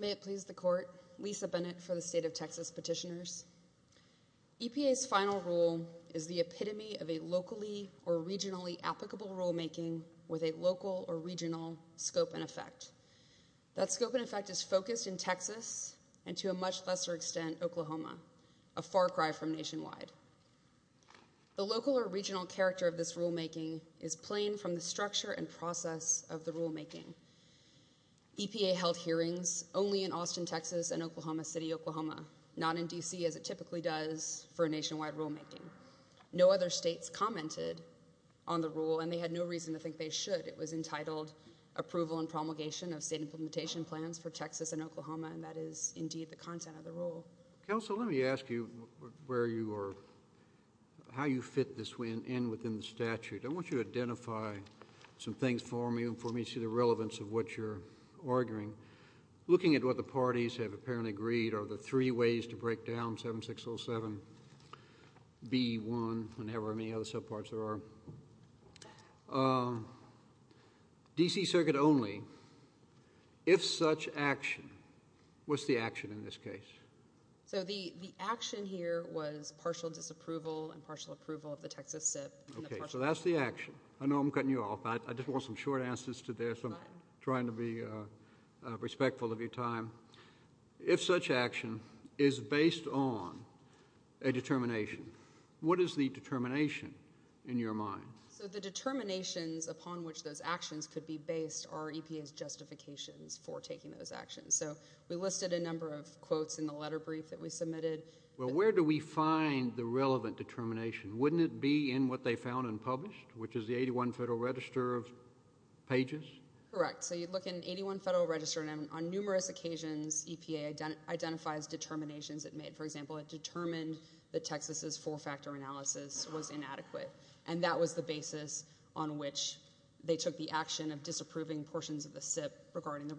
May it please the court, Lisa Bennett for the State of Texas Petitioners. EPA's final rule is the epitome of a locally or regionally applicable rulemaking with a local or regional scope and effect. That scope and effect is focused in Texas and to a much lesser extent Oklahoma, a far from nationwide. The local or regional character of this rulemaking is plain from the structure and process of the rulemaking. EPA held hearings only in Austin, Texas and Oklahoma City, Oklahoma, not in D.C. as it typically does for a nationwide rulemaking. No other states commented on the rule and they had no reason to think they should. It was entitled Approval and Promulgation of State Implementation Plans for Texas and Oklahoma and that is indeed the content of the rule. Counsel, let me ask you where you are, how you fit this in within the statute. I want you to identify some things for me and for me to see the relevance of what you're arguing. Looking at what the parties have apparently agreed are the three ways to break down 7607 B.1 and however many other subparts there are. D.C. Circuit only, if such action, what's the action in this case? So the action here was partial disapproval and partial approval of the Texas SIP. Okay, so that's the action. I know I'm cutting you off, I just want some short answers to this, I'm trying to be respectful of your time. If such action is based on a determination, what is the determination in your mind? So the determinations upon which those actions could be based are EPA's justifications for taking those actions. So we listed a number of quotes in the letter brief that we submitted. Well, where do we find the relevant determination? Wouldn't it be in what they found and published, which is the 81 Federal Register of Pages? Correct. So you look in 81 Federal Register and on numerous occasions EPA identifies determinations it made. For example, it determined that Texas's four-factor analysis was inadequate and that was the basis on which they took the action of disapproving portions of the SIP regarding the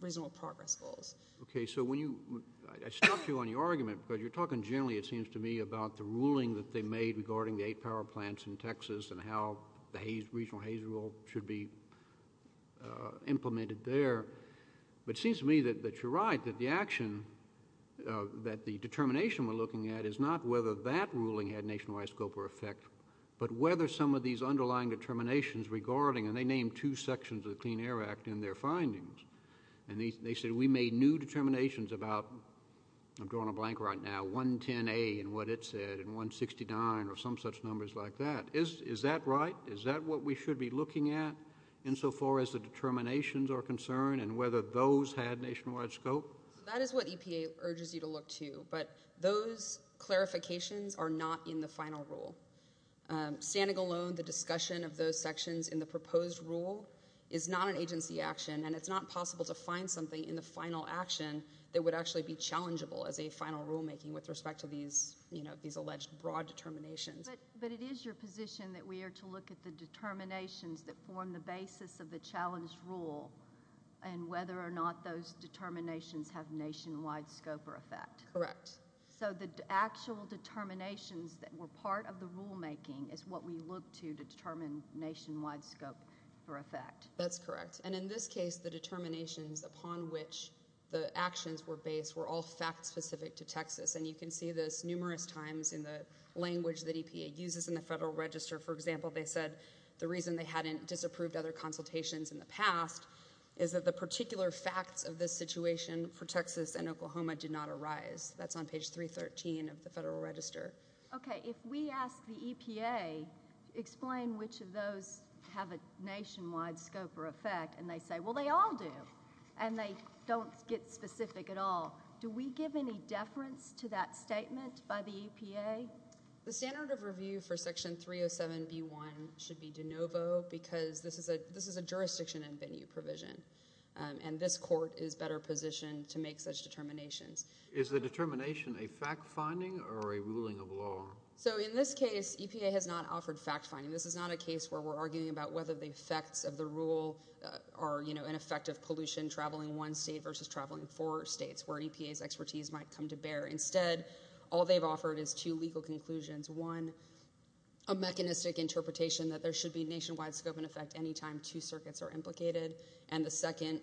reasonable progress goals. Okay, so when you, I stopped you on your argument, but you're talking generally, it seems to me, about the ruling that they made regarding the eight power plants in Texas and how the regional HAZE rule should be implemented there, but it seems to me that you're right, that the action that the determination we're looking at is not whether that ruling had nationwide scope or effect, but whether some of these underlying determinations regarding, and they named two sections of the Clean Air Act in their findings, and they said we made new determinations about, I'm drawing a blank right now, 110A and what it said and 169 or some such numbers like that. Is that right? Is that what we should be looking at insofar as the determinations are concerned and whether those had nationwide scope? That is what EPA urges you to look to, but those clarifications are not in the final rule. Standing alone, the discussion of those sections in the proposed rule is not an agency action and it's not possible to find something in the final action that would actually be challengeable as a final rulemaking with respect to these, you know, these alleged broad determinations. But it is your position that we are to look at the determinations that form the basis of the challenge rule and whether or not those determinations have nationwide scope or effect. Correct. So the actual determinations that were part of the rulemaking is what we look to to determine nationwide scope or effect. That's correct. And in this case, the determinations upon which the actions were based were all fact specific to Texas, and you can see this numerous times in the language that EPA uses in the Federal Register. For example, they said the reason they hadn't disapproved other consultations in the past is that the particular facts of this situation for Texas and Oklahoma did not arise. That's on page 313 of the Federal Register. Okay. If we ask the EPA, explain which of those have a nationwide scope or effect, and they say, well, they all do, and they don't get specific at all, do we give any deference to that statement by the EPA? The standard of review for Section 307B1 should be de novo because this is a jurisdiction and venue provision, and this court is better positioned to make such determinations. Is the determination a fact-finding or a ruling of law? So in this case, EPA has not offered fact-finding. This is not a case where we're arguing about whether the effects of the rule are an effect of pollution traveling one state versus traveling four states, where EPA's expertise might come to bear. Instead, all they've offered is two legal conclusions. One, a mechanistic interpretation that there should be nationwide scope and effect any time two circuits are implicated, and the second,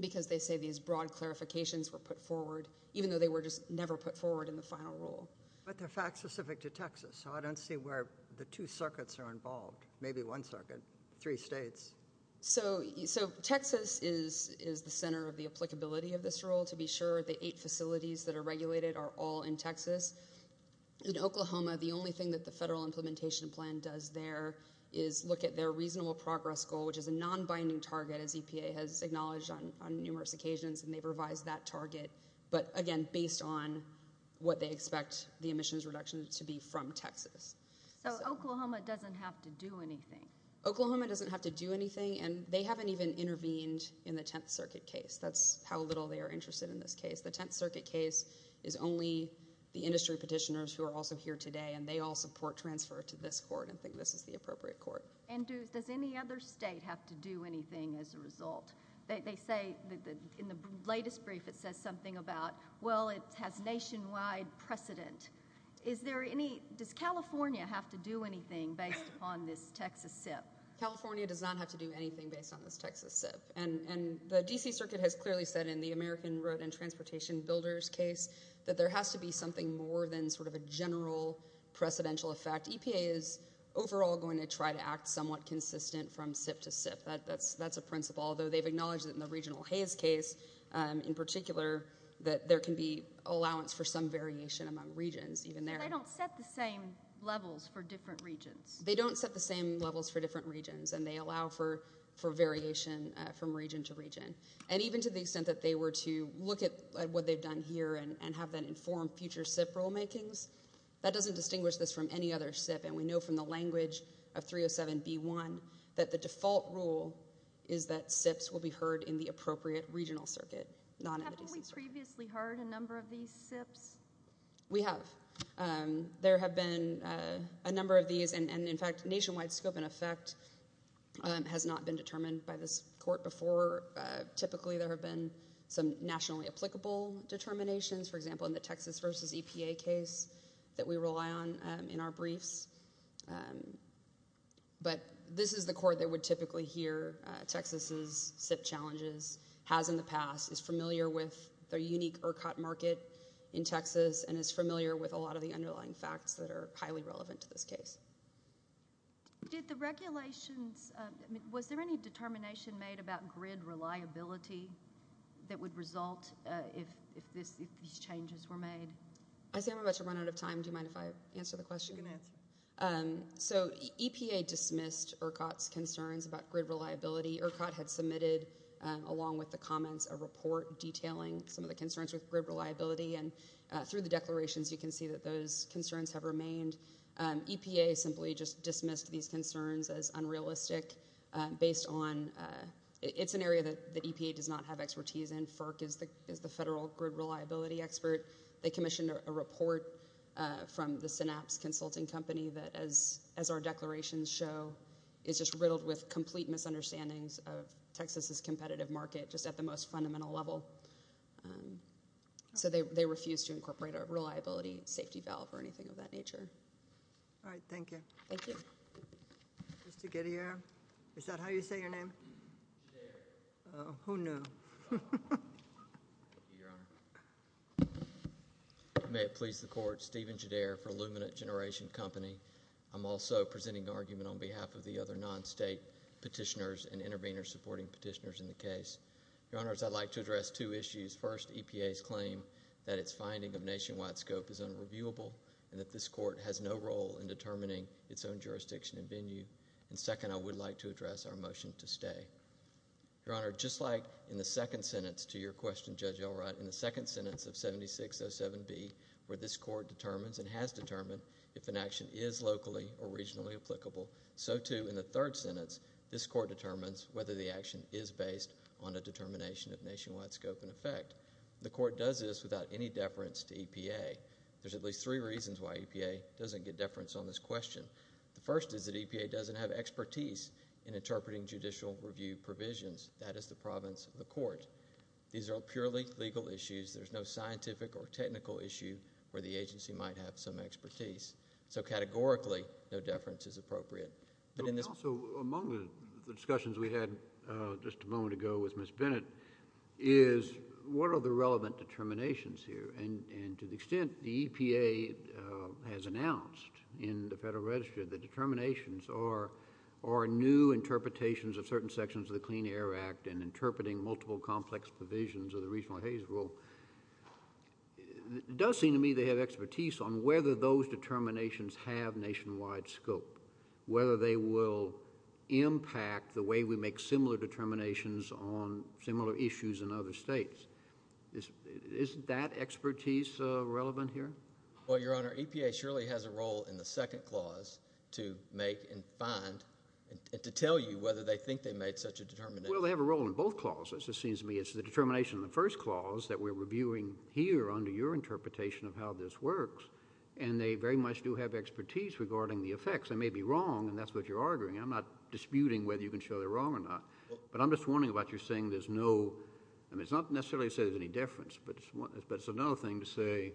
because they say these broad clarifications were put forward, even though they were just never put forward in the final rule. But they're fact-specific to Texas, so I don't see where the two circuits are involved, maybe one circuit, three states. So Texas is the center of the applicability of this rule. To be sure, the eight facilities that are regulated are all in Texas. In Oklahoma, the only thing that the federal implementation plan does there is look at their reasonable progress goal, which is a non-binding target, as EPA has acknowledged on numerous occasions, and they've revised that target, but again, based on what they expect the emissions reduction to be from Texas. So Oklahoma doesn't have to do anything? Oklahoma doesn't have to do anything, and they haven't even intervened in the Tenth Circuit case. That's how little they are interested in this case. The Tenth Circuit case is only the industry petitioners who are also here today, and they all support transfer to this court and think this is the appropriate court. And does any other state have to do anything as a result? They say, in the latest brief, it says something about, well, it has nationwide precedent. Is there any—does California have to do anything based upon this Texas SIP? California does not have to do anything based on this Texas SIP, and the D.C. Circuit has clearly said in the American Road and Transportation Builders case that there has to be something more than sort of a general precedential effect. EPA is overall going to try to act somewhat consistent from SIP to SIP. That's a principle, although they've acknowledged that in the Regional Haze case, in particular, that there can be allowance for some variation among regions, even there. They don't set the same levels for different regions? They don't set the same levels for different regions, and they allow for variation from region to region. And even to the extent that they were to look at what they've done here and have that inform future SIP rulemakings, that doesn't distinguish this from any other SIP, and we know from the language of 307b1 that the default rule is that SIPs will be heard in the appropriate regional circuit, not in the D.C. Circuit. Haven't we previously heard a number of these SIPs? We have. There have been a number of these, and in fact, nationwide scope and effect has not been determined by this court before. Typically there have been some nationally applicable determinations, for example, in the Texas versus EPA case that we rely on in our briefs. But this is the court that would typically hear Texas' SIP challenges, has in the past, is familiar with their unique ERCOT market in Texas, and is familiar with a lot of the underlying facts that are highly relevant to this case. Did the regulations, was there any determination made about grid reliability that would result if these changes were made? I see I'm about to run out of time. Do you mind if I answer the question? You can answer. So EPA dismissed ERCOT's concerns about grid reliability. ERCOT had submitted, along with the comments, a report detailing some of the concerns with grid reliability, and through the declarations you can see that those concerns have remained. EPA simply just dismissed these concerns as unrealistic based on, it's an area that EPA does not have expertise in. FERC is the federal grid reliability expert. They commissioned a report from the Synapse Consulting Company that, as our declarations show, is just riddled with complete misunderstandings of Texas' competitive market, just at the most fundamental level. So they refused to incorporate a reliability safety valve or anything of that nature. All right. Thank you. Thank you. Mr. Gidier. Is that how you say your name? Gidier. Oh, who knew? Thank you, Your Honor. May it please the Court, Stephen Gidier for Luminant Generation Company. I'm also presenting an argument on behalf of the other non-state petitioners and intervenors supporting petitioners in the case. Your Honors, I'd like to address two issues. First, EPA's claim that its finding of nationwide scope is unreviewable and that this Court has no role in determining its own jurisdiction and venue. And second, I would like to address our motion to stay. Your Honor, just like in the second sentence to your question, Judge Elrod, in the second sentence of 7607B, where this Court determines and has determined if an action is locally or regionally applicable, so too in the third sentence, this Court determines whether the nationwide scope in effect. The Court does this without any deference to EPA. There's at least three reasons why EPA doesn't get deference on this question. The first is that EPA doesn't have expertise in interpreting judicial review provisions. That is the province of the Court. These are all purely legal issues. There's no scientific or technical issue where the agency might have some expertise. So categorically, no deference is appropriate. Also, among the discussions we had just a moment ago with Ms. Bennett is what are the relevant determinations here? And to the extent the EPA has announced in the Federal Register that determinations are new interpretations of certain sections of the Clean Air Act and interpreting multiple complex provisions of the Regional Haze Rule, it does seem to me they have expertise on whether those determinations have nationwide scope, whether they will impact the way we make similar determinations on similar issues in other states. Isn't that expertise relevant here? Well, Your Honor, EPA surely has a role in the second clause to make and find and to tell you whether they think they made such a determination. Well, they have a role in both clauses, it seems to me. It's the determination in the first clause that we're reviewing here under your discretion, and they very much do have expertise regarding the effects. They may be wrong, and that's what you're arguing. I'm not disputing whether you can show they're wrong or not. But I'm just wondering about your saying there's no – I mean, it's not necessarily to say there's any deference, but it's another thing to say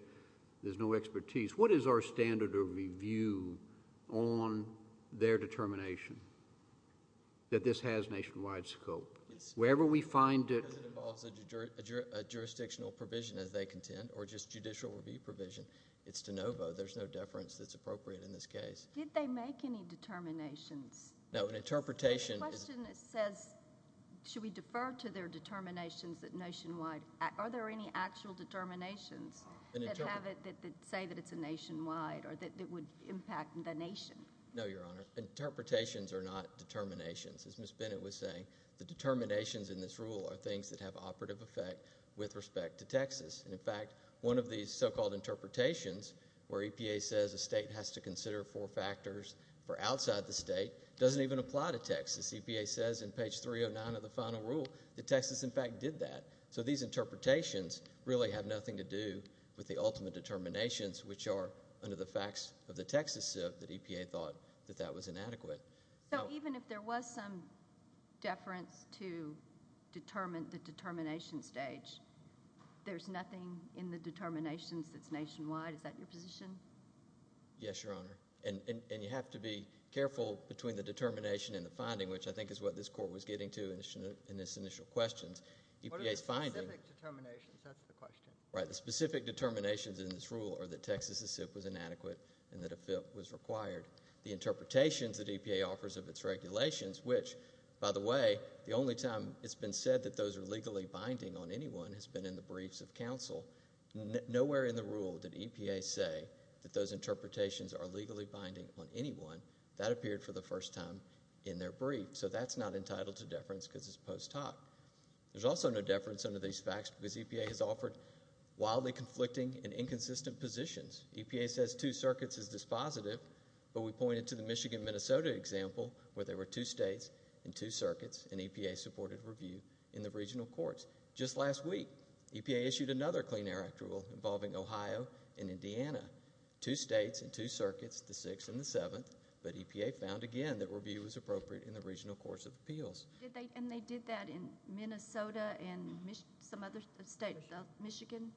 there's no expertise. What is our standard of review on their determination that this has nationwide scope? Wherever we find it – Because it involves a jurisdictional provision, as they contend, or just judicial review provision, it's de novo. There's no deference that's appropriate in this case. Did they make any determinations? No. An interpretation – The question says, should we defer to their determinations that nationwide – are there any actual determinations that say that it's a nationwide or that it would impact the nation? No, Your Honor. Interpretations are not determinations. As Ms. Bennett was saying, the determinations in this rule are things that have operative effect with respect to Texas. And, in fact, one of these so-called interpretations where EPA says a state has to consider four factors for outside the state doesn't even apply to Texas. EPA says in page 309 of the final rule that Texas, in fact, did that. So these interpretations really have nothing to do with the ultimate determinations, which are under the facts of the Texas Civ that EPA thought that that was inadequate. So even if there was some deference to determine the determination stage, there's nothing in the determinations that's nationwide? Is that your position? Yes, Your Honor. And you have to be careful between the determination and the finding, which I think is what this court was getting to in its initial questions. EPA's finding – What are the specific determinations? That's the question. Right. The specific determinations in this rule are that Texas's Civ was inadequate and that a Civ was required. The interpretations that EPA offers of its regulations, which, by the way, the only time it's been said that those are legally binding on anyone has been in the briefs of counsel. Nowhere in the rule did EPA say that those interpretations are legally binding on anyone. That appeared for the first time in their brief. So that's not entitled to deference because it's post hoc. There's also no deference under these facts because EPA has offered wildly conflicting and inconsistent positions. EPA says two circuits is dispositive, but we pointed to the Michigan-Minnesota example where there were two states and two circuits, and EPA supported review in the regional courts. Just last week, EPA issued another Clean Air Act rule involving Ohio and Indiana. Two states and two circuits, the 6th and the 7th, but EPA found again that review was appropriate in the regional courts of appeals. And they did that in Minnesota and some other states? Michigan?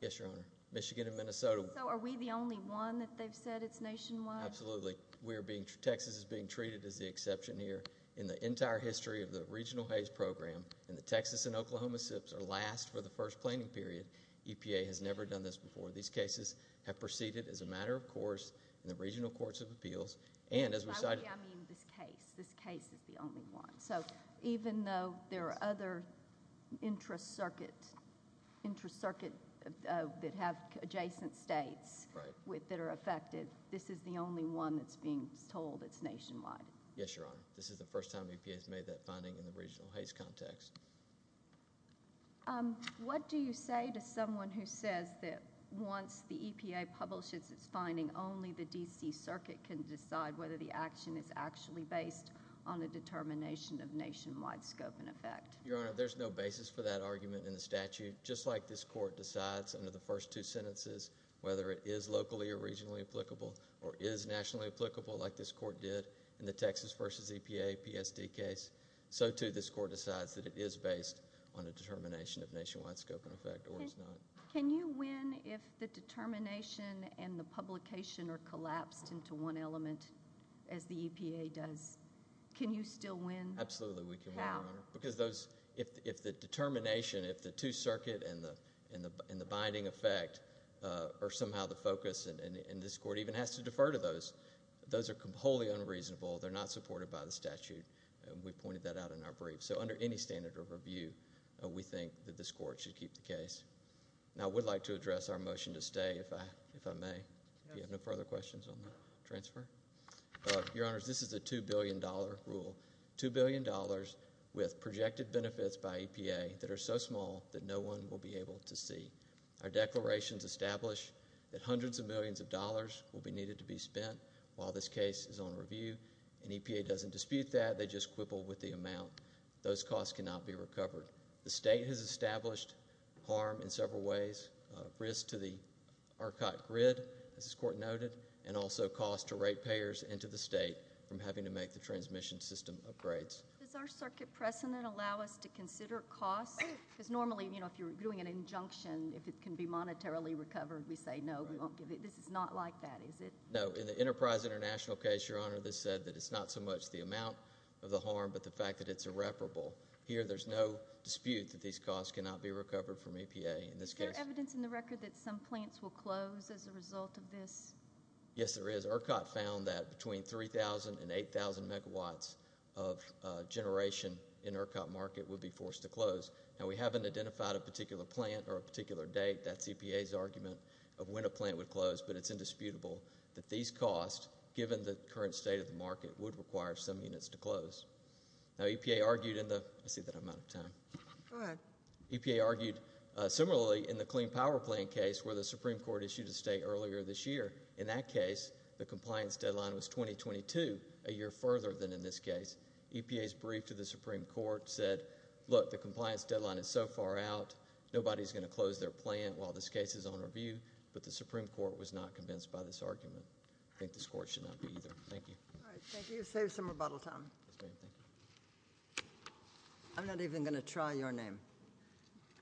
Yes, Your Honor. Michigan and Minnesota. So are we the only one that they've said it's nationwide? Absolutely. We're being... Texas is being treated as the exception here in the entire history of the regional Hays Program, and the Texas and Oklahoma SIPs are last for the first planning period. EPA has never done this before. These cases have proceeded as a matter of course in the regional courts of appeals, and as we decided... By we, I mean this case. This case is the only one. So even though there are other intra-circuit that have adjacent states that are affected, this is the only one that's being told it's nationwide? Yes, Your Honor. This is the first time EPA has made that finding in the regional Hays context. What do you say to someone who says that once the EPA publishes its finding, only the D.C. Your Honor, there's no basis for that argument in the statute. Just like this court decides under the first two sentences whether it is locally or regionally applicable or is nationally applicable like this court did in the Texas versus EPA PSD case, so too this court decides that it is based on a determination of nationwide scope and effect or is not. Can you win if the determination and the publication are collapsed into one element as the EPA does? Can you still win? Absolutely we can, Your Honor. How? Because if the determination, if the two-circuit and the binding effect are somehow the focus and this court even has to defer to those, those are wholly unreasonable. They're not supported by the statute. We pointed that out in our brief. So under any standard of review, we think that this court should keep the case. Now, I would like to address our motion to stay, if I may, if you have no further questions on the transfer. Your Honors, this is a $2 billion rule. $2 billion with projected benefits by EPA that are so small that no one will be able to see. Our declarations establish that hundreds of millions of dollars will be needed to be spent while this case is on review and EPA doesn't dispute that. They just quibble with the amount. Those costs cannot be recovered. The state has established harm in several ways, risk to the RCOT grid, as this court noted, and also cost to rate payers and to the state from having to make the transmission system upgrades. Does our circuit precedent allow us to consider costs? Because normally, you know, if you're doing an injunction, if it can be monetarily recovered, we say no, we won't give it. This is not like that, is it? No. In the Enterprise International case, Your Honor, this said that it's not so much the amount of the harm but the fact that it's irreparable. Here, there's no dispute that these costs cannot be recovered from EPA in this case. Is there evidence in the record that some plants will close as a result of this? Yes, there is. In this case, RCOT found that between 3,000 and 8,000 megawatts of generation in RCOT market would be forced to close. Now, we haven't identified a particular plant or a particular date. That's EPA's argument of when a plant would close, but it's indisputable that these costs, given the current state of the market, would require some units to close. Now, EPA argued in the—I see that I'm out of time. Go ahead. EPA argued similarly in the Clean Power Plant case where the Supreme Court issued a state earlier this year. In that case, the compliance deadline was 2022, a year further than in this case. EPA's brief to the Supreme Court said, look, the compliance deadline is so far out, nobody's going to close their plant while this case is on review, but the Supreme Court was not convinced by this argument. I think this Court should not be either. Thank you. All right. Thank you. Save some rebuttal time. Yes, ma'am. Thank you. I'm not even going to try your name.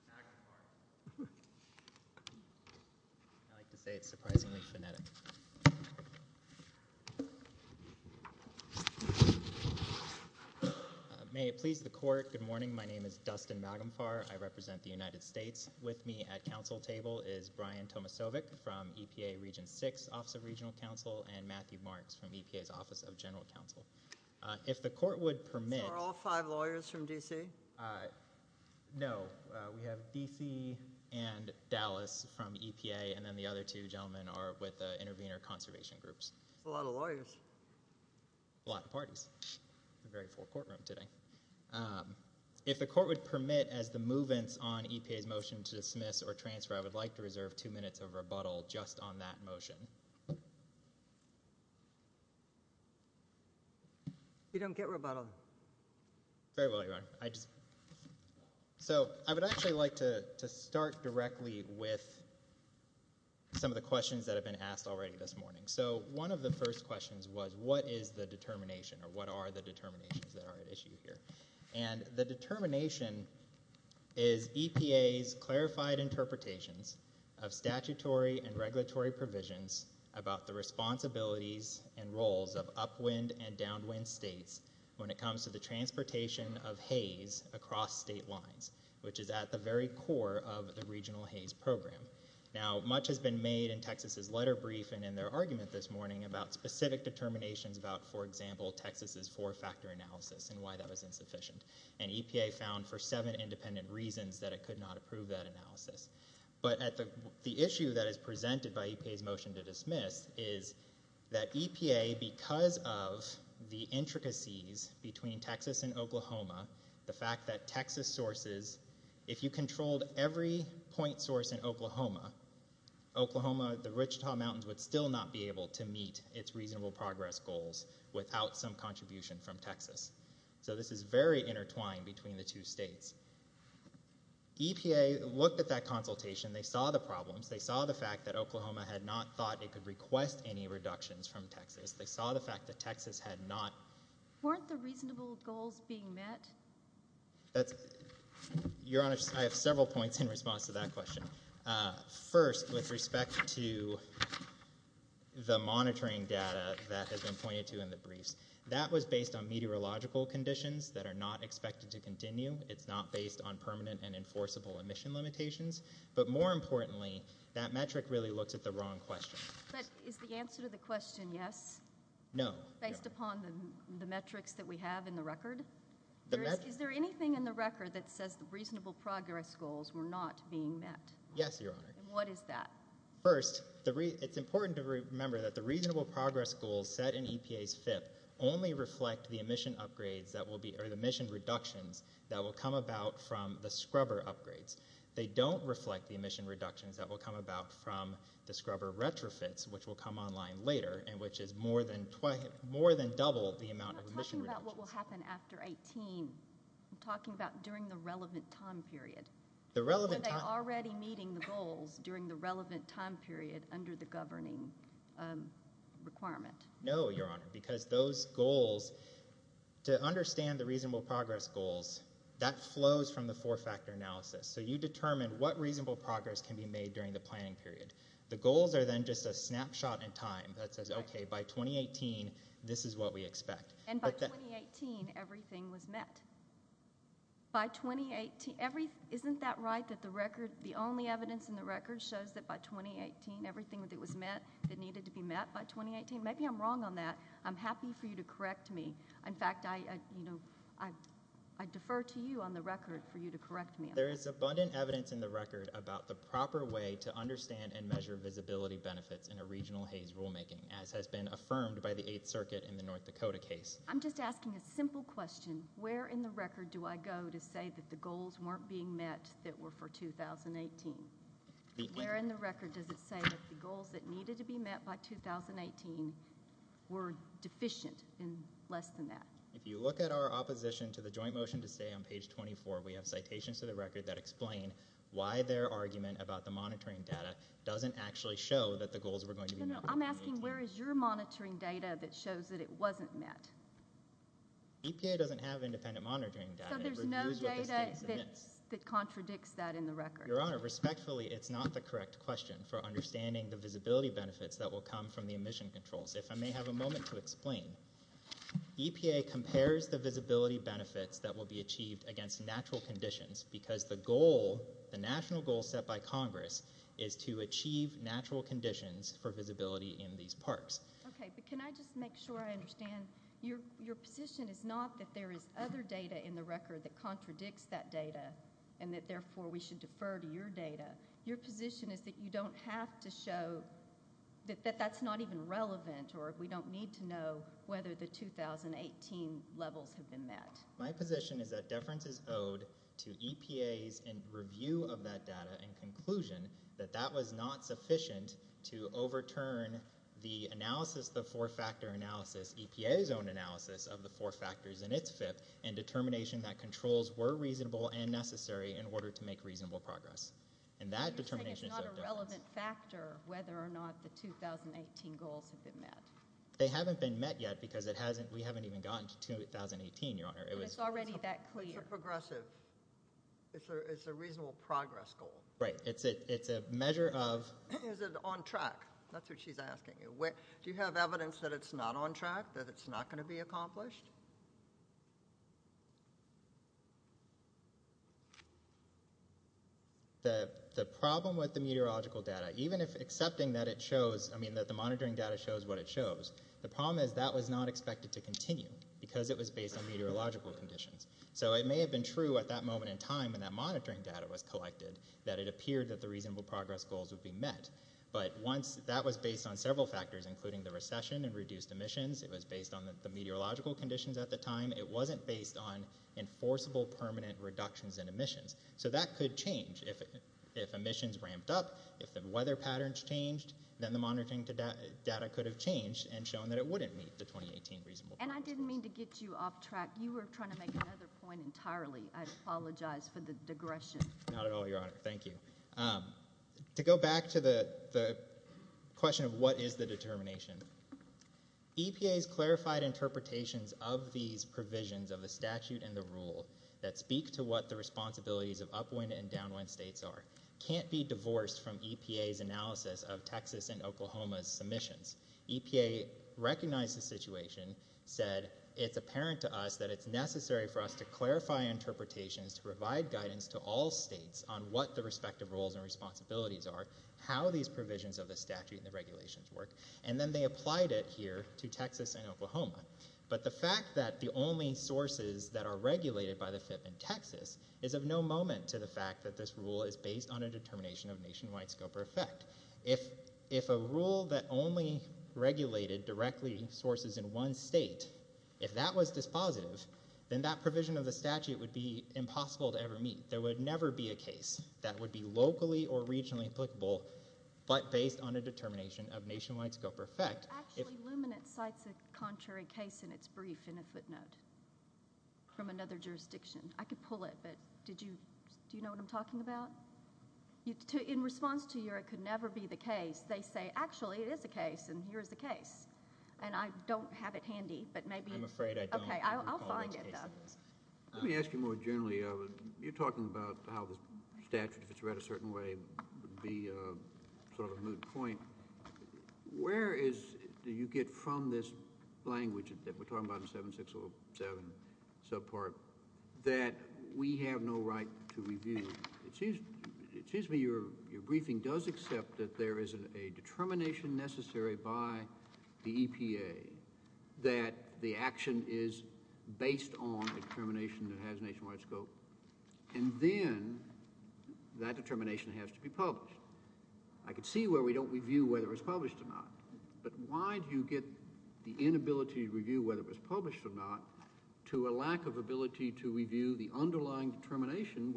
Magumfar. I like to say it's surprisingly phonetic. May it please the Court, good morning. My name is Dustin Magumfar. I represent the United States. With me at Council table is Brian Tomasovic from EPA Region 6, Office of Regional Counsel, and Matthew Marks from EPA's Office of General Counsel. If the Court would permit— Are all five lawyers from D.C.? No. We have D.C. and Dallas from EPA, and then the other two gentlemen are with Intervenor Conservation Groups. That's a lot of lawyers. A lot of parties. It's a very full courtroom today. If the Court would permit, as the move-ins on EPA's motion to dismiss or transfer, I would like to reserve two minutes of rebuttal just on that motion. You don't get rebuttal. Very well, Your Honor. I would actually like to start directly with some of the questions that have been asked already this morning. One of the first questions was, what is the determination, or what are the determinations that are at issue here? The determination is EPA's clarified interpretations of statutory and regulatory provisions about the responsibilities and roles of upwind and downwind states when it comes to the transportation of haze across state lines, which is at the very core of the Regional Haze Program. Now, much has been made in Texas's letter brief and in their argument this morning about specific determinations about, for example, Texas's four-factor analysis and why that was insufficient, and EPA found for seven independent reasons that it could not approve that analysis. But at the issue that is presented by EPA's motion to dismiss is that EPA, because of the intricacies between Texas and Oklahoma, the fact that Texas sources, if you controlled every point source in Oklahoma, Oklahoma, the Wichita Mountains would still not be able to meet its reasonable progress goals without some contribution from Texas. So this is very intertwined between the two states. EPA looked at that consultation. They saw the problems. They saw the fact that Oklahoma had not thought it could request any reductions from Texas. They saw the fact that Texas had not... Weren't the reasonable goals being met? Your Honor, I have several points in response to that question. First, with respect to the monitoring data that has been pointed to in the briefs, that was based on meteorological conditions that are not expected to continue. It's not based on permanent and enforceable emission limitations. But more importantly, that metric really looks at the wrong question. But is the answer to the question yes? No. Based upon the metrics that we have in the record? Is there anything in the record that says the reasonable progress goals were not being met? Yes, Your Honor. And what is that? First, it's important to remember that the reasonable progress goals set in EPA's FIP only reflect the emission reductions that will come about from the scrubber upgrades. They don't reflect the emission reductions that will come about from the scrubber retrofits, which will come online later, and which is more than double the amount of emission reductions. I'm not talking about what will happen after 18. I'm talking about during the relevant time period. The relevant time... Are they already meeting the goals during the relevant time period under the governing requirement? No, Your Honor. Because those goals, to understand the reasonable progress goals, that flows from the four-factor analysis. So you determine what reasonable progress can be made during the planning period. The goals are then just a snapshot in time that says, okay, by 2018, this is what we expect. And by 2018, everything was met. By 2018... Isn't that right, that the record... The only evidence in the record shows that by 2018, everything that was met that needed to be met by 2018? Maybe I'm wrong on that. I'm happy for you to correct me. In fact, I defer to you on the record for you to correct me on that. There is abundant evidence in the record about the proper way to understand and measure visibility benefits in a regional Hays rulemaking, as has been affirmed by the Eighth Circuit in the North Dakota case. I'm just asking a simple question. Where in the record do I go to say that the goals weren't being met that were for 2018? Where in the record does it say that the goals that needed to be met by 2018 were deficient in less than that? If you look at our opposition to the joint motion to stay on page 24, we have citations to the record that explain why their argument about the monitoring data doesn't actually show that the goals were going to be met by 2018. No, no, I'm asking where is your monitoring data that shows that it wasn't met? EPA doesn't have independent monitoring data. So there's no data that contradicts that in the record? Your Honor, respectfully, it's not the correct question for understanding the visibility benefits that will come from the emission controls. If I may have a moment to explain. EPA compares the visibility benefits that will be achieved against natural conditions because the goal, the national goal set by Congress, is to achieve natural conditions for visibility in these parks. Okay, but can I just make sure I understand, your position is not that there is other data in the record that contradicts that data and that therefore we should defer to your data. Your position is that you don't have to show that that's not even relevant or we don't need to know whether the 2018 levels have been met. My position is that deference is owed to EPA's review of that data and conclusion that that was not sufficient to overturn the analysis, the four-factor analysis, EPA's own analysis of the four factors in its FIP and determination that controls were reasonable and necessary in order to make reasonable progress. And that determination is owed to us. You're saying it's not a relevant factor whether or not the 2018 goals have been met. They haven't been met yet because we haven't even gotten to 2018, your Honor. And it's already that clear. It's a progressive, it's a reasonable progress goal. Right, it's a measure of... Is it on track? That's what she's asking you. Do you have evidence that it's not on track, that it's not going to be accomplished? The problem with the meteorological data, even if accepting that it shows, I mean that the monitoring data shows what it shows, the problem is that was not expected to continue because it was based on meteorological conditions. So it may have been true at that moment in time when that monitoring data was collected that it appeared that the reasonable progress goals would be met. But once that was based on several factors, including the recession and reduced emissions, it was based on the meteorological conditions at the time, it wasn't based on enforceable permanent reductions in emissions. So that could change if emissions ramped up, if the weather patterns changed, then the monitoring data could have changed and shown that it wouldn't meet the 2018 reasonable progress goals. And I didn't mean to get you off track. You were trying to make another point entirely. I apologize for the digression. Not at all, your Honor. Thank you. To go back to the question of what is the determination, EPA's clarified interpretations of these provisions of the statute and the rule that speak to what the responsibilities of upwind and downwind states are can't be divorced from EPA's analysis of Texas and Oklahoma's submissions. EPA recognized the situation, said it's apparent to us that it's necessary for us to clarify interpretations to provide guidance to all states on what the respective roles and responsibilities are, how these provisions of the statute and the regulations work, and then they applied it here to Texas and Oklahoma. But the fact that the only sources that are regulated by the FIP in Texas is of no moment to the fact that this rule is based on a determination of nationwide scope or effect. If a rule that only regulated directly sources in one state, if that was dispositive, then that provision of the statute would be impossible to ever meet. There would never be a case that would be locally or regionally applicable but based on a determination of nationwide scope or effect. Actually, Luminate cites a contrary case in its brief in a footnote from another jurisdiction. I could pull it, but do you know what I'm talking about? In response to your it could never be the case, they say actually it is a case and here is the case. And I don't have it handy, but maybe— I'm afraid I don't. Okay. I'll find it, though. Let me ask you more generally. You're talking about how the statute, if it's read a certain way, would be sort of a moot point. Where is—do you get from this language that we're talking about in 7607, subpart, that we have no right to review? It seems to me your briefing does accept that there is a determination necessary by the state based on a determination that has nationwide scope and then that determination has to be published. I could see where we don't review whether it was published or not, but why do you get the inability to review whether it was published or not to a lack of ability to review the underlying determination,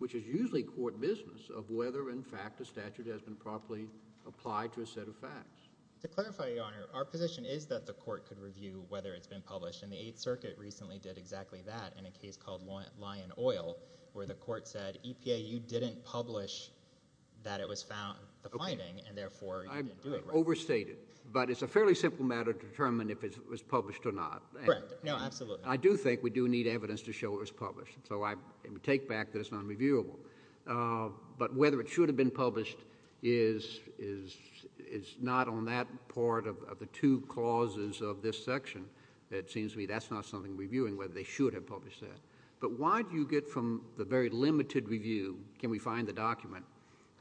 which is usually court business, of whether in fact a statute has been properly applied to a set of facts? To clarify, Your Honor, our position is that the court could review whether it's been published, and the Eighth Circuit recently did exactly that in a case called Lion Oil, where the court said, EPA, you didn't publish that it was found—the finding, and therefore you didn't do it, right? Okay. I overstated. But it's a fairly simple matter to determine if it was published or not. Correct. No, absolutely. I do think we do need evidence to show it was published, so I take back that it's nonreviewable. But whether it should have been published is not on that part of the two clauses of this section. It seems to me that's not something we're viewing, whether they should have published that. But why do you get from the very limited review, can we find the document,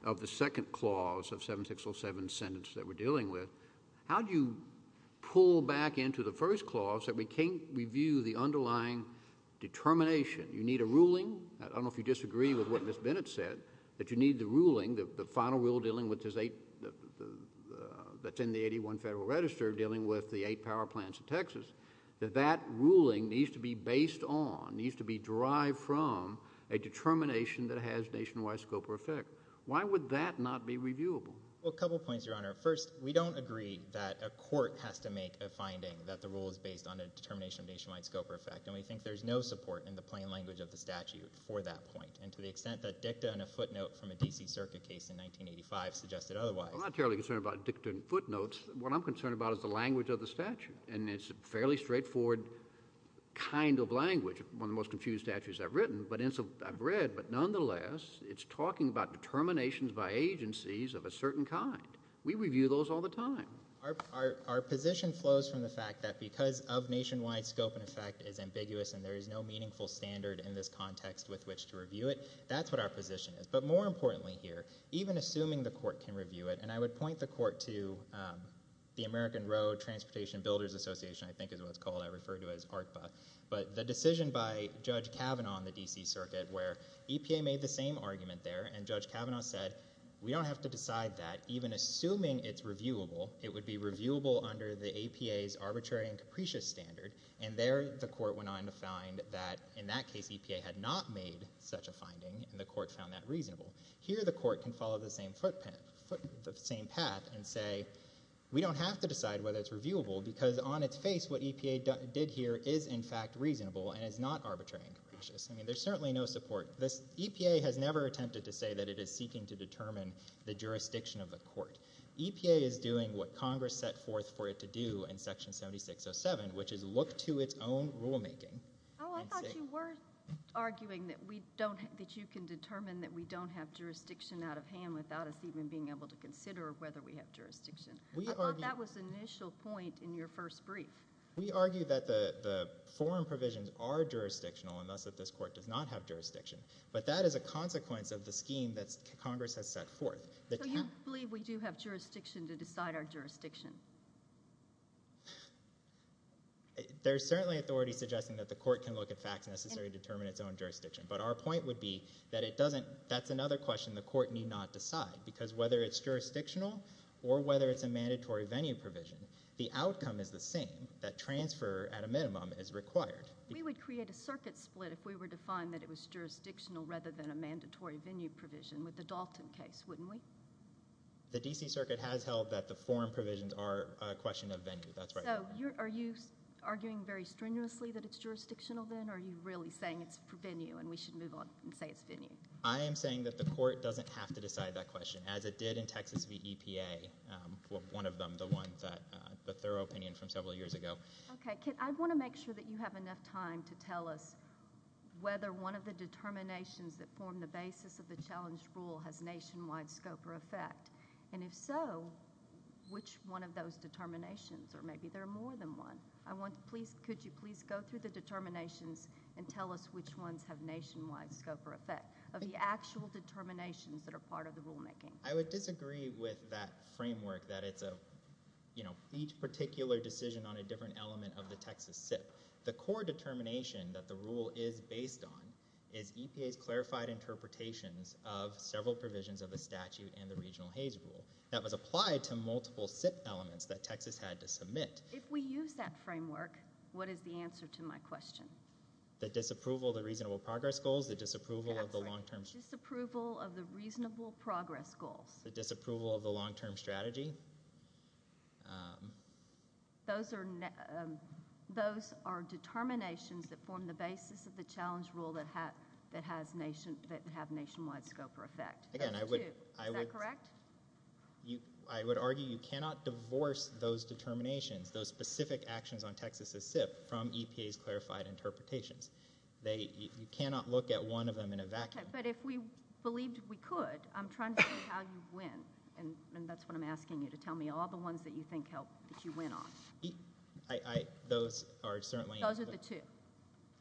of the second clause of 7607 sentence that we're dealing with, how do you pull back into the first clause that we can't review the underlying determination? You need a ruling. I don't know if you disagree with what Ms. Bennett said, that you need the ruling, the that that ruling needs to be based on, needs to be derived from a determination that has nationwide scope or effect. Why would that not be reviewable? Well, a couple points, Your Honor. First, we don't agree that a court has to make a finding that the rule is based on a determination of nationwide scope or effect, and we think there's no support in the plain language of the statute for that point. And to the extent that dicta and a footnote from a D.C. Circuit case in 1985 suggested otherwise— I'm not terribly concerned about dicta and footnotes. What I'm concerned about is the language of the statute, and it's a fairly straightforward kind of language, one of the most confused statutes I've written, but I've read, but nonetheless, it's talking about determinations by agencies of a certain kind. We review those all the time. Our position flows from the fact that because of nationwide scope and effect is ambiguous and there is no meaningful standard in this context with which to review it, that's what our position is. But more importantly here, even assuming the court can review it, and I would point the American Road Transportation Builders Association, I think is what it's called, I refer to it as ARTBA, but the decision by Judge Kavanaugh in the D.C. Circuit where EPA made the same argument there, and Judge Kavanaugh said, we don't have to decide that. Even assuming it's reviewable, it would be reviewable under the APA's arbitrary and capricious standard, and there the court went on to find that in that case EPA had not made such a finding, and the court found that reasonable. Here the court can follow the same path and say, we don't have to decide whether it's reviewable because on its face what EPA did here is in fact reasonable and is not arbitrary and capricious. I mean, there's certainly no support. EPA has never attempted to say that it is seeking to determine the jurisdiction of the court. EPA is doing what Congress set forth for it to do in Section 7607, which is look to its own rulemaking. Oh, I thought you were arguing that you can determine that we don't have jurisdiction out of hand without us even being able to consider whether we have jurisdiction. I thought that was the initial point in your first brief. We argue that the foreign provisions are jurisdictional, and thus that this court does not have jurisdiction, but that is a consequence of the scheme that Congress has set forth. There's certainly authority suggesting that the court can look at facts necessary to determine its own jurisdiction, but our point would be that it doesn't, that's another question the court need not decide because whether it's jurisdictional or whether it's a mandatory venue provision, the outcome is the same, that transfer at a minimum is required. We would create a circuit split if we were to find that it was jurisdictional rather than a mandatory venue provision with the Dalton case, wouldn't we? The D.C. Circuit has held that the foreign provisions are a question of venue, that's right. So, are you arguing very strenuously that it's jurisdictional then, or are you really saying it's venue and we should move on and say it's venue? I am saying that the court doesn't have to decide that question, as it did in Texas v. EPA, one of them, the one that, the thorough opinion from several years ago. Okay, I want to make sure that you have enough time to tell us whether one of the determinations that form the basis of the challenge rule has nationwide scope or effect, and if so, which one of those determinations, or maybe there are more than one. I want, please, could you please go through the determinations and tell us which ones have nationwide scope or effect of the actual determinations that are part of the rulemaking. I would disagree with that framework that it's a, you know, each particular decision on a different element of the Texas SIP. The core determination that the rule is based on is EPA's clarified interpretations of several provisions of the statute and the regional Hays rule. That was applied to multiple SIP elements that Texas had to submit. If we use that framework, what is the answer to my question? The disapproval of the reasonable progress goals, the disapproval of the long-term... That's right, disapproval of the reasonable progress goals. The disapproval of the long-term strategy. Those are determinations that form the basis of the challenge rule that have nationwide scope or effect. Again, I would... Is that correct? I would argue you cannot divorce those determinations, those specific actions on Texas's SIP from EPA's clarified interpretations. You cannot look at one of them in a vacuum. Okay, but if we believed we could, I'm trying to see how you win, and that's what I'm asking you, to tell me all the ones that you think you win on. Those are certainly... Those are the two.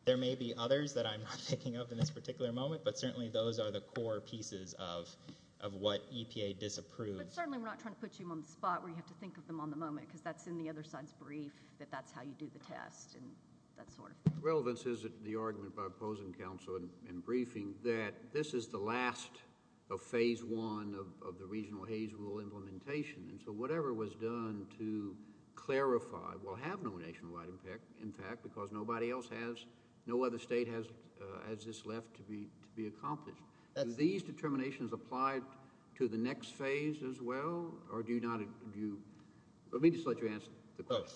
There may be others that I'm not picking up in this particular moment, but certainly those are the core pieces of what EPA disapproved. But certainly we're not trying to put you on the spot where you have to think of them on the moment because that's in the other side's brief that that's how you do the test and that sort of thing. Relevance is the argument by opposing counsel in briefing that this is the last of phase one of the regional Hays rule implementation. And so whatever was done to clarify, well, have no nationwide impact, in fact, because nobody else has, no other state has this left to be accomplished. Do these determinations apply to the next phase as well, or do you not... Let me just let you answer the question.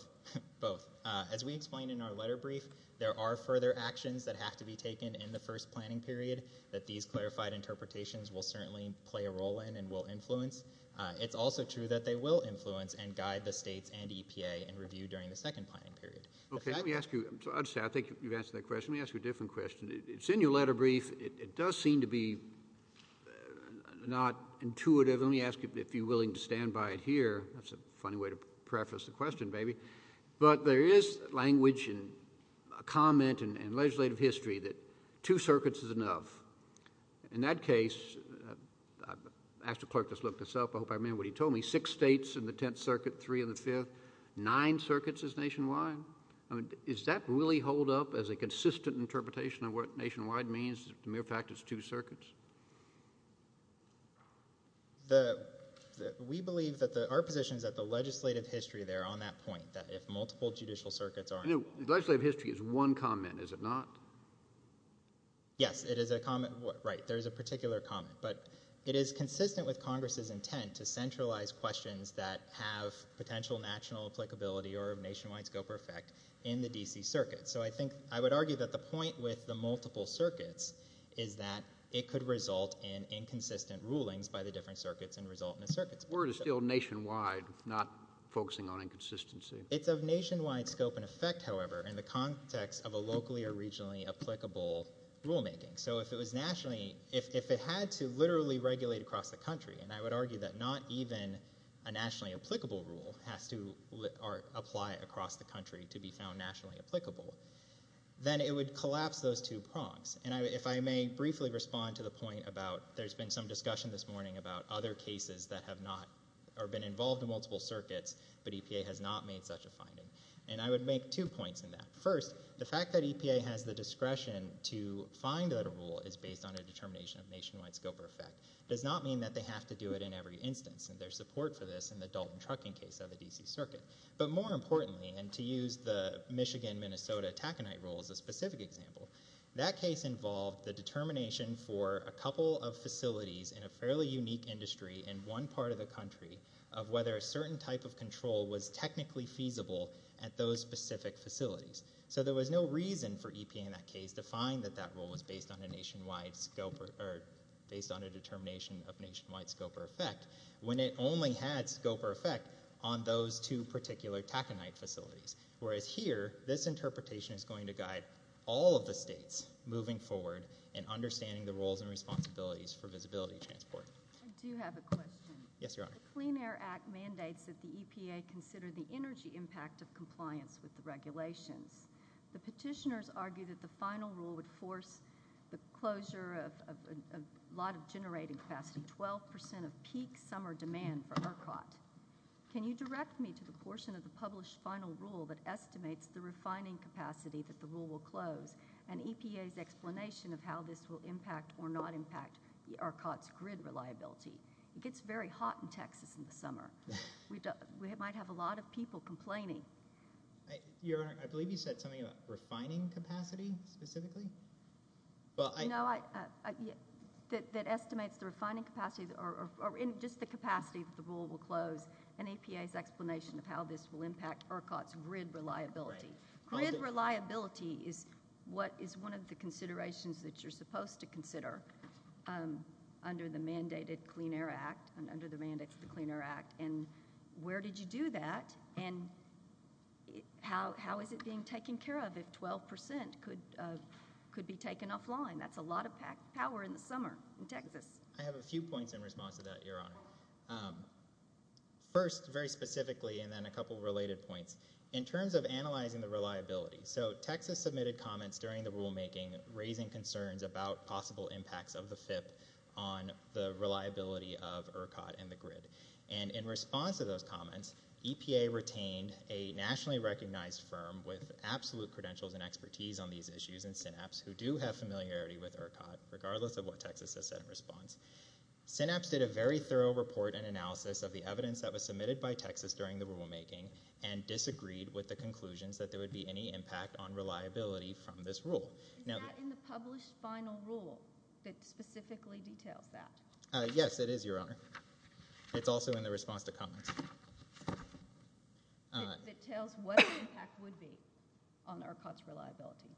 Both. As we explained in our letter brief, there are further actions that have to be taken in the first planning period that these clarified interpretations will certainly play a role in and will influence. It's also true that they will influence and guide the states and EPA in review during the second planning period. Okay, let me ask you. I think you've answered that question. Let me ask you a different question. It's in your letter brief. It does seem to be not intuitive. Let me ask you if you're willing to stand by it here. That's a funny way to preface the question, baby. But there is language and comment in legislative history that two circuits is enough. In that case, I asked the clerk to look this up. I hope I remember what he told me. Six states in the Tenth Circuit, three in the Fifth, nine circuits is nationwide. I mean, does that really hold up as a consistent interpretation of what nationwide means, the mere fact it's two circuits? We believe that our position is that the legislative history there on that point, that if multiple judicial circuits are involved. Legislative history is one comment, is it not? Yes, it is a comment. Right, there is a particular comment. But it is consistent with Congress's intent to centralize questions that have potential national applicability or nationwide scope or effect in the D.C. Circuit. So I would argue that the point with the multiple circuits is that it could result in inconsistent rulings by the different circuits and result in a circuit. Word is still nationwide, not focusing on inconsistency. It's of nationwide scope and effect, however, in the context of a locally or regionally applicable rulemaking. So if it had to literally regulate across the country, and I would argue that not even a nationally applicable rule has to apply across the country to be found nationally applicable, then it would collapse those two prongs. And if I may briefly respond to the point about there's been some discussion this morning about other cases that have not been involved in multiple circuits, but EPA has not made such a finding. And I would make two points in that. First, the fact that EPA has the discretion to find that a rule is based on a determination of nationwide scope or effect does not mean that they have to do it in every instance. And there's support for this in the Dalton Trucking case of the D.C. Circuit. But more importantly, and to use the Michigan-Minnesota Taconite rule as a specific example, that case involved the determination for a couple of facilities in a fairly unique industry in one part of the country of whether a certain type of control was technically feasible at those specific facilities. So there was no reason for EPA in that case to find that that rule was based on a nationwide scope or based on a determination of nationwide scope or effect when it only had scope or effect on those two particular Taconite facilities. Whereas here, this interpretation is going to guide all of the states moving forward in understanding the roles and responsibilities for visibility transport. I do have a question. Yes, Your Honor. The Clean Air Act mandates that the EPA consider the energy impact of compliance with the regulations. The petitioners argue that the final rule would force the closure of a lot of generating capacity, including 12 percent of peak summer demand for RCOT. Can you direct me to the portion of the published final rule that estimates the refining capacity that the rule will close and EPA's explanation of how this will impact or not impact RCOT's grid reliability? It gets very hot in Texas in the summer. We might have a lot of people complaining. Your Honor, I believe you said something about refining capacity specifically. No, that estimates the refining capacity or just the capacity that the rule will close and EPA's explanation of how this will impact RCOT's grid reliability. Grid reliability is one of the considerations that you're supposed to consider under the mandated Clean Air Act and under the mandates of the Clean Air Act. Where did you do that? And how is it being taken care of if 12 percent could be taken offline? That's a lot of power in the summer in Texas. I have a few points in response to that, Your Honor. First, very specifically, and then a couple of related points. In terms of analyzing the reliability, so Texas submitted comments during the rulemaking raising concerns about possible impacts of the FIP on the reliability of RCOT and the grid. And in response to those comments, EPA retained a nationally recognized firm with absolute credentials and expertise on these issues in Synapse who do have familiarity with RCOT, regardless of what Texas has said in response. Synapse did a very thorough report and analysis of the evidence that was submitted by Texas during the rulemaking and disagreed with the conclusions that there would be any impact on reliability from this rule. Is that in the published final rule that specifically details that? Yes, it is, Your Honor. It's also in the response to comments. It tells what the impact would be on RCOT's reliability.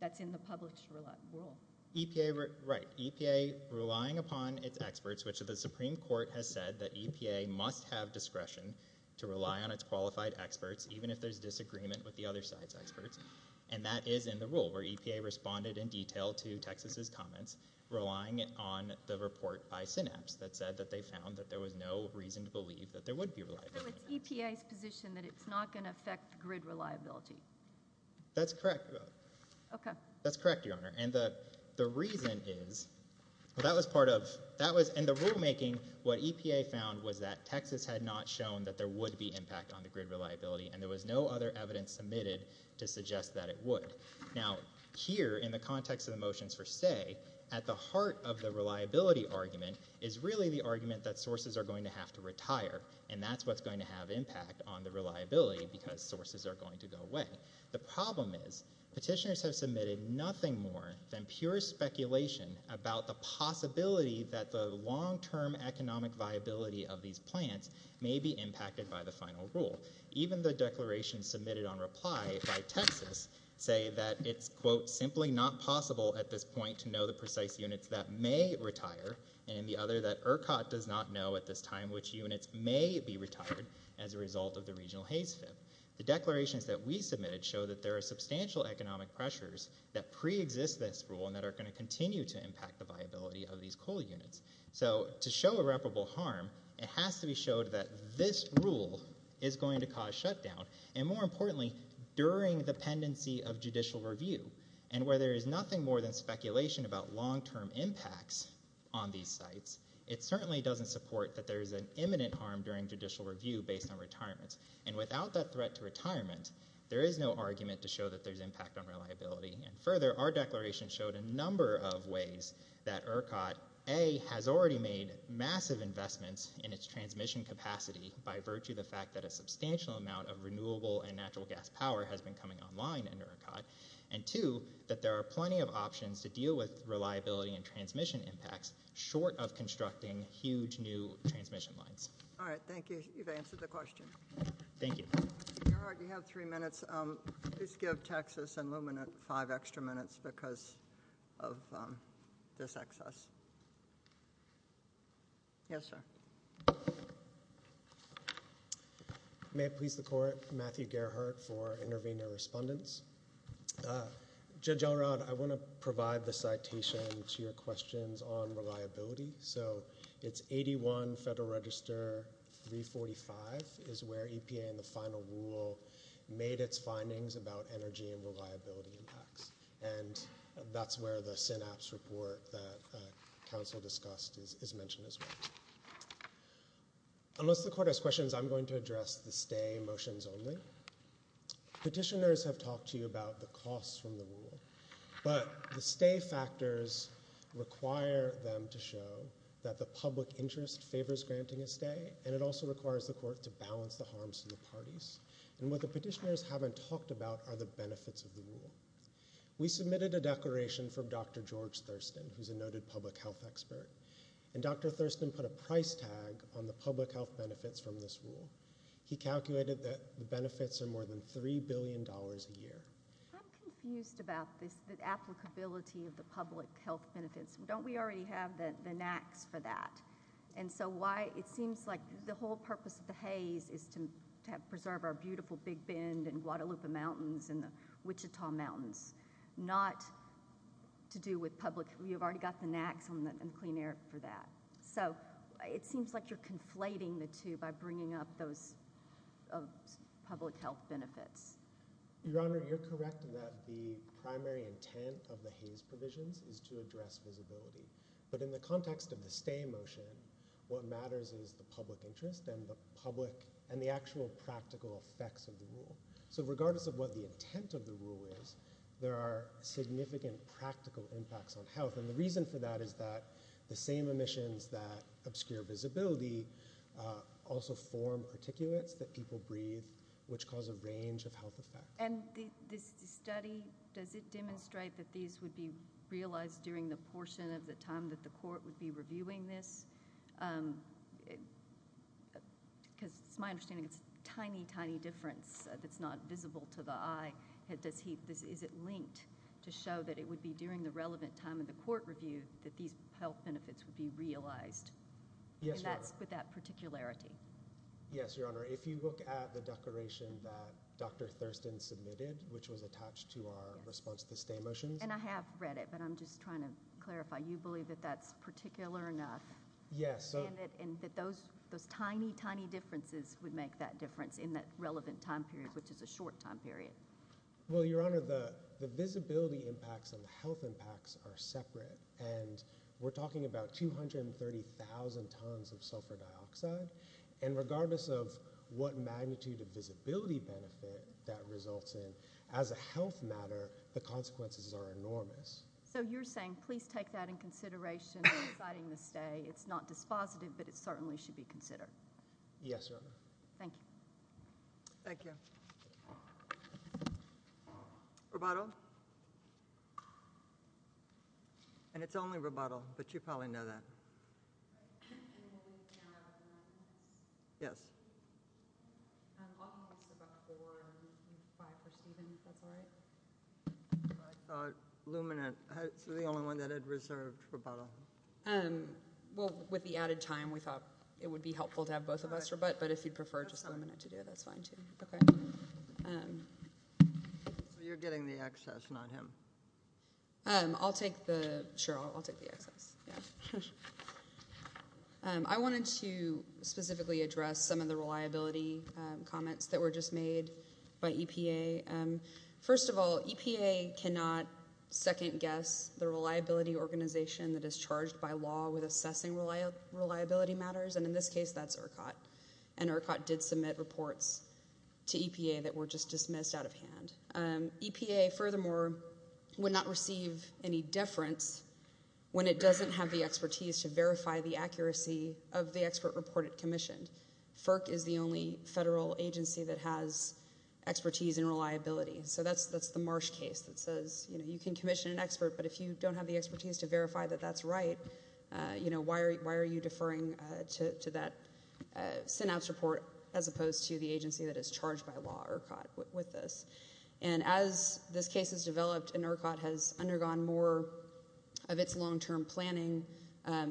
That's in the published rule. EPA, right, EPA relying upon its experts, which the Supreme Court has said that EPA must have discretion to rely on its qualified experts even if there's disagreement with the other side's experts. Relying on the report by Synapse that said that they found that there was no reason to believe that there would be reliability. So it's EPA's position that it's not going to affect grid reliability. That's correct, Your Honor. Okay. That's correct, Your Honor. And the reason is, well, that was part of, that was in the rulemaking what EPA found was that Texas had not shown that there would be impact on the grid reliability and there was no other evidence submitted to suggest that it would. Now, here in the context of the motions for stay, at the heart of the reliability argument is really the argument that sources are going to have to retire, and that's what's going to have impact on the reliability because sources are going to go away. The problem is petitioners have submitted nothing more than pure speculation about the possibility that the long-term economic viability of these plants may be impacted by the final rule. Even the declarations submitted on reply by Texas say that it's, quote, simply not possible at this point to know the precise units that may retire and in the other that ERCOT does not know at this time which units may be retired as a result of the regional haze fit. The declarations that we submitted show that there are substantial economic pressures that preexist this rule and that are going to continue to impact the viability of these coal units. So to show irreparable harm, it has to be showed that this rule is going to cause shutdown and, more importantly, during the pendency of judicial review. And where there is nothing more than speculation about long-term impacts on these sites, it certainly doesn't support that there is an imminent harm during judicial review based on retirements. And without that threat to retirement, there is no argument to show that there's impact on reliability. And further, our declaration showed a number of ways that ERCOT, A, has already made massive investments in its transmission capacity by virtue of the fact that a substantial amount of renewable and natural gas power has been coming online in ERCOT, and, two, that there are plenty of options to deal with reliability and transmission impacts short of constructing huge new transmission lines. All right. Thank you. You've answered the question. Thank you. Gerhard, you have three minutes. Please give Texas and Lumen five extra minutes because of this excess. Yes, sir. May it please the Court. Matthew Gerhardt for intervener respondents. Judge Elrod, I want to provide the citation to your questions on reliability. So it's 81 Federal Register 345 is where EPA in the final rule made its findings about energy and reliability impacts, and that's where the synapse report that counsel discussed is mentioned as well. Unless the Court has questions, I'm going to address the stay motions only. Petitioners have talked to you about the costs from the rule, but the stay factors require them to show that the public interest favors granting a stay, and it also requires the Court to balance the harms to the parties. And what the petitioners haven't talked about are the benefits of the rule. We submitted a declaration from Dr. George Thurston, who's a noted public health expert, and Dr. Thurston put a price tag on the public health benefits from this rule. He calculated that the benefits are more than $3 billion a year. I'm confused about the applicability of the public health benefits. Don't we already have the NAAQS for that? And so why it seems like the whole purpose of the Hays is to preserve our beautiful Big Bend and Guadalupe Mountains and the Wichita Mountains, not to do with public— you've already got the NAAQS and the Clean Air for that. So it seems like you're conflating the two by bringing up those public health benefits. Your Honor, you're correct that the primary intent of the Hays provisions is to address visibility. But in the context of the stay motion, what matters is the public interest and the actual practical effects of the rule. So regardless of what the intent of the rule is, there are significant practical impacts on health. And the reason for that is that the same emissions that obscure visibility also form articulates that people breathe, which cause a range of health effects. And this study, does it demonstrate that these would be realized during the portion of the time that the court would be reviewing this? Because it's my understanding it's a tiny, tiny difference that's not visible to the eye. Is it linked to show that it would be during the relevant time of the court review that these health benefits would be realized? Yes, Your Honor. And that's with that particularity? Yes, Your Honor. If you look at the declaration that Dr. Thurston submitted, which was attached to our response to the stay motions. And I have read it, but I'm just trying to clarify. You believe that that's particular enough? Yes. And that those tiny, tiny differences would make that difference in that relevant time period, which is a short time period? Well, Your Honor, the visibility impacts and the health impacts are separate. And we're talking about 230,000 tons of sulfur dioxide. And regardless of what magnitude of visibility benefit that results in, as a health matter the consequences are enormous. So you're saying please take that in consideration in deciding the stay. It's not dispositive, but it certainly should be considered. Yes, Your Honor. Thank you. Thank you. Rebuttal? And it's only rebuttal, but you probably know that. Yes. Luminant is the only one that had reserved rebuttal. Well, with the added time we thought it would be helpful to have both of us rebut, but if you'd prefer just Luminant to do it, that's fine too. You're getting the excess, not him. I'll take the excess. I wanted to specifically address some of the reliability comments that were just made by EPA. First of all, EPA cannot second-guess the reliability organization that is charged by law with assessing reliability matters, and in this case that's ERCOT. And ERCOT did submit reports to EPA that were just dismissed out of hand. EPA, furthermore, would not receive any deference when it doesn't have the expertise to verify the accuracy of the expert report it commissioned. FERC is the only federal agency that has expertise in reliability. So that's the Marsh case that says, you know, you can commission an expert, but if you don't have the expertise to verify that that's right, you know, why are you deferring to that synapse report as opposed to the agency that is charged by law, ERCOT, with this? And as this case has developed and ERCOT has undergone more of its long-term planning,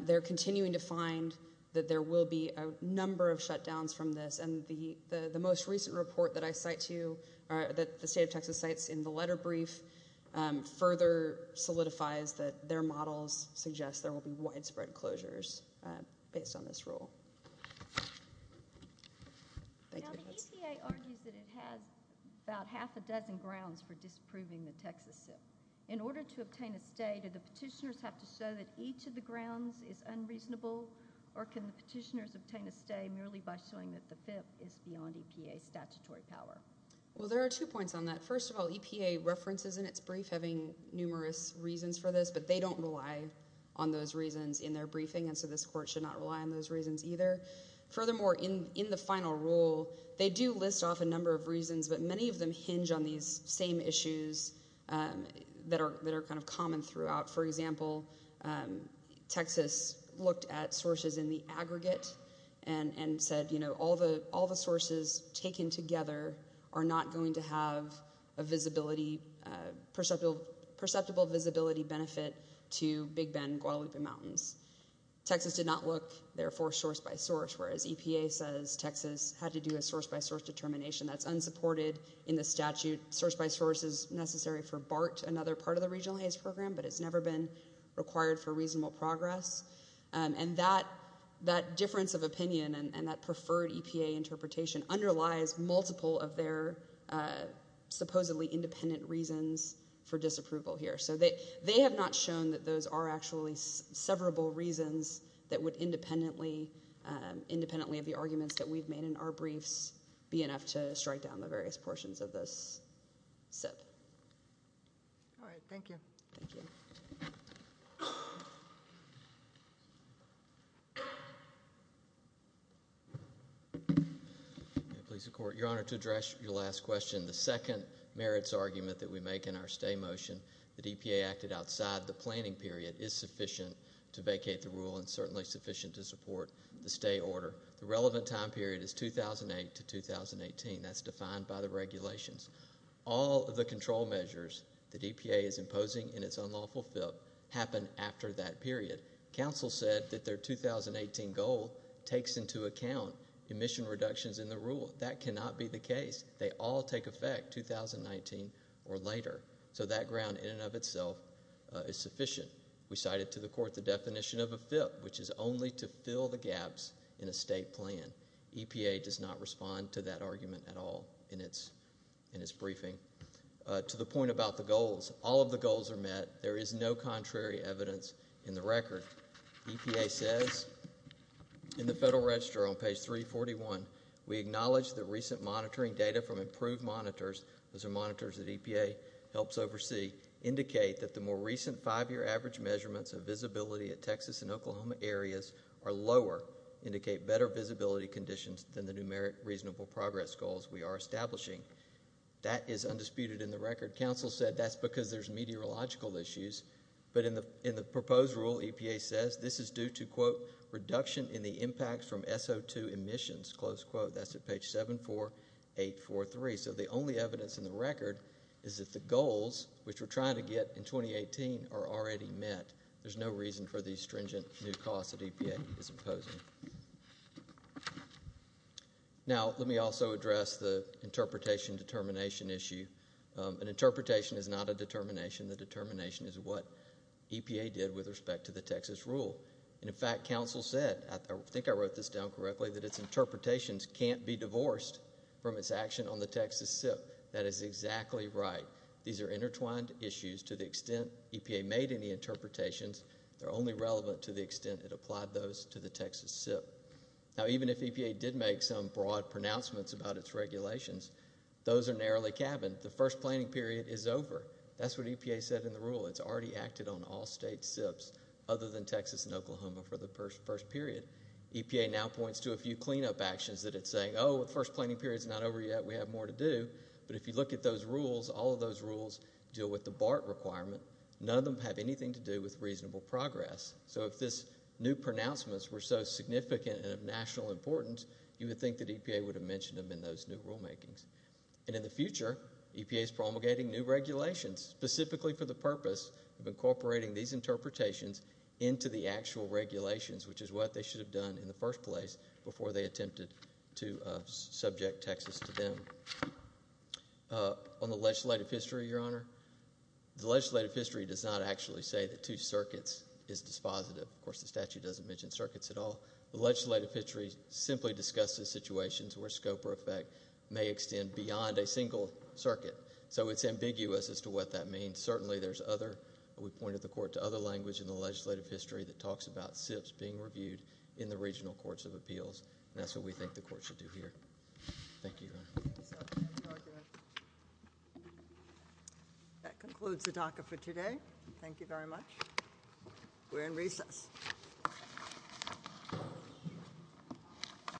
they're continuing to find that there will be a number of shutdowns from this. And the most recent report that I cite to you, that the state of Texas cites in the letter brief, further solidifies that their models suggest there will be widespread closures based on this rule. Now the EPA argues that it has about half a dozen grounds for disproving the Texas SIP. In order to obtain a stay, do the petitioners have to show that each of the grounds is unreasonable, or can the petitioners obtain a stay merely by showing that the FIP is beyond EPA statutory power? Well, there are two points on that. First of all, EPA references in its brief having numerous reasons for this, but they don't rely on those reasons in their briefing, and so this court should not rely on those reasons either. Furthermore, in the final rule, they do list off a number of reasons, but many of them hinge on these same issues that are kind of common throughout. For example, Texas looked at sources in the aggregate and said, you know, all the sources taken together are not going to have a perceptible visibility benefit to Big Bend and Guadalupe Mountains. Texas did not look, therefore, source by source, whereas EPA says Texas had to do a source by source determination. That's unsupported in the statute. Source by source is necessary for BART, another part of the Regional Haze Program, but it's never been required for reasonable progress. And that difference of opinion and that preferred EPA interpretation underlies multiple of their supposedly independent reasons for disapproval here. So they have not shown that those are actually severable reasons that would independently of the arguments that we've made in our briefs be enough to strike down the various portions of this SIP. All right. Thank you. Thank you. Your Honor, to address your last question, the second merits argument that we make in our stay motion, that EPA acted outside the planning period is sufficient to vacate the rule and certainly sufficient to support the stay order. The relevant time period is 2008 to 2018. That's defined by the regulations. All of the control measures that EPA is imposing in its unlawful FIP happen after that period. Council said that their 2018 goal takes into account emission reductions in the rule. That cannot be the case. They all take effect 2019 or later. So that ground in and of itself is sufficient. We cited to the court the definition of a FIP, which is only to fill the gaps in a state plan. EPA does not respond to that argument at all in its briefing. To the point about the goals, all of the goals are met. There is no contrary evidence in the record. EPA says in the Federal Register on page 341, we acknowledge that recent monitoring data from improved monitors, those are monitors that EPA helps oversee, indicate that the more recent five-year average measurements of visibility at Texas and Oklahoma areas are lower, indicate better visibility conditions than the numeric reasonable progress goals we are establishing. That is undisputed in the record. Council said that's because there's meteorological issues. But in the proposed rule, EPA says this is due to, quote, reduction in the impacts from SO2 emissions, close quote. That's at page 74843. So the only evidence in the record is that the goals, which we're trying to get in 2018, are already met. There's no reason for the stringent new costs that EPA is imposing. Now, let me also address the interpretation determination issue. An interpretation is not a determination. The determination is what EPA did with respect to the Texas rule. And, in fact, Council said, I think I wrote this down correctly, that its interpretations can't be divorced from its action on the Texas SIP. That is exactly right. These are intertwined issues to the extent EPA made any interpretations. They're only relevant to the extent it applied those to the Texas SIP. Now, even if EPA did make some broad pronouncements about its regulations, those are narrowly cabined. The first planning period is over. That's what EPA said in the rule. It's already acted on all state SIPs other than Texas and Oklahoma for the first period. EPA now points to a few cleanup actions that it's saying, oh, the first planning period is not over yet. We have more to do. But if you look at those rules, all of those rules deal with the BART requirement. None of them have anything to do with reasonable progress. So if these new pronouncements were so significant and of national importance, you would think that EPA would have mentioned them in those new rulemakings. And in the future, EPA is promulgating new regulations, specifically for the purpose of incorporating these interpretations into the actual regulations, which is what they should have done in the first place before they attempted to subject Texas to them. On the legislative history, Your Honor, the legislative history does not actually say that two circuits is dispositive. Of course, the statute doesn't mention circuits at all. The legislative history simply discusses situations where scope or effect may extend beyond a single circuit. So it's ambiguous as to what that means. And certainly there's other, we pointed the court to other language in the legislative history that talks about SIPs being reviewed in the regional courts of appeals. And that's what we think the court should do here. Thank you, Your Honor. That concludes the DACA for today. Thank you very much. We're in recess.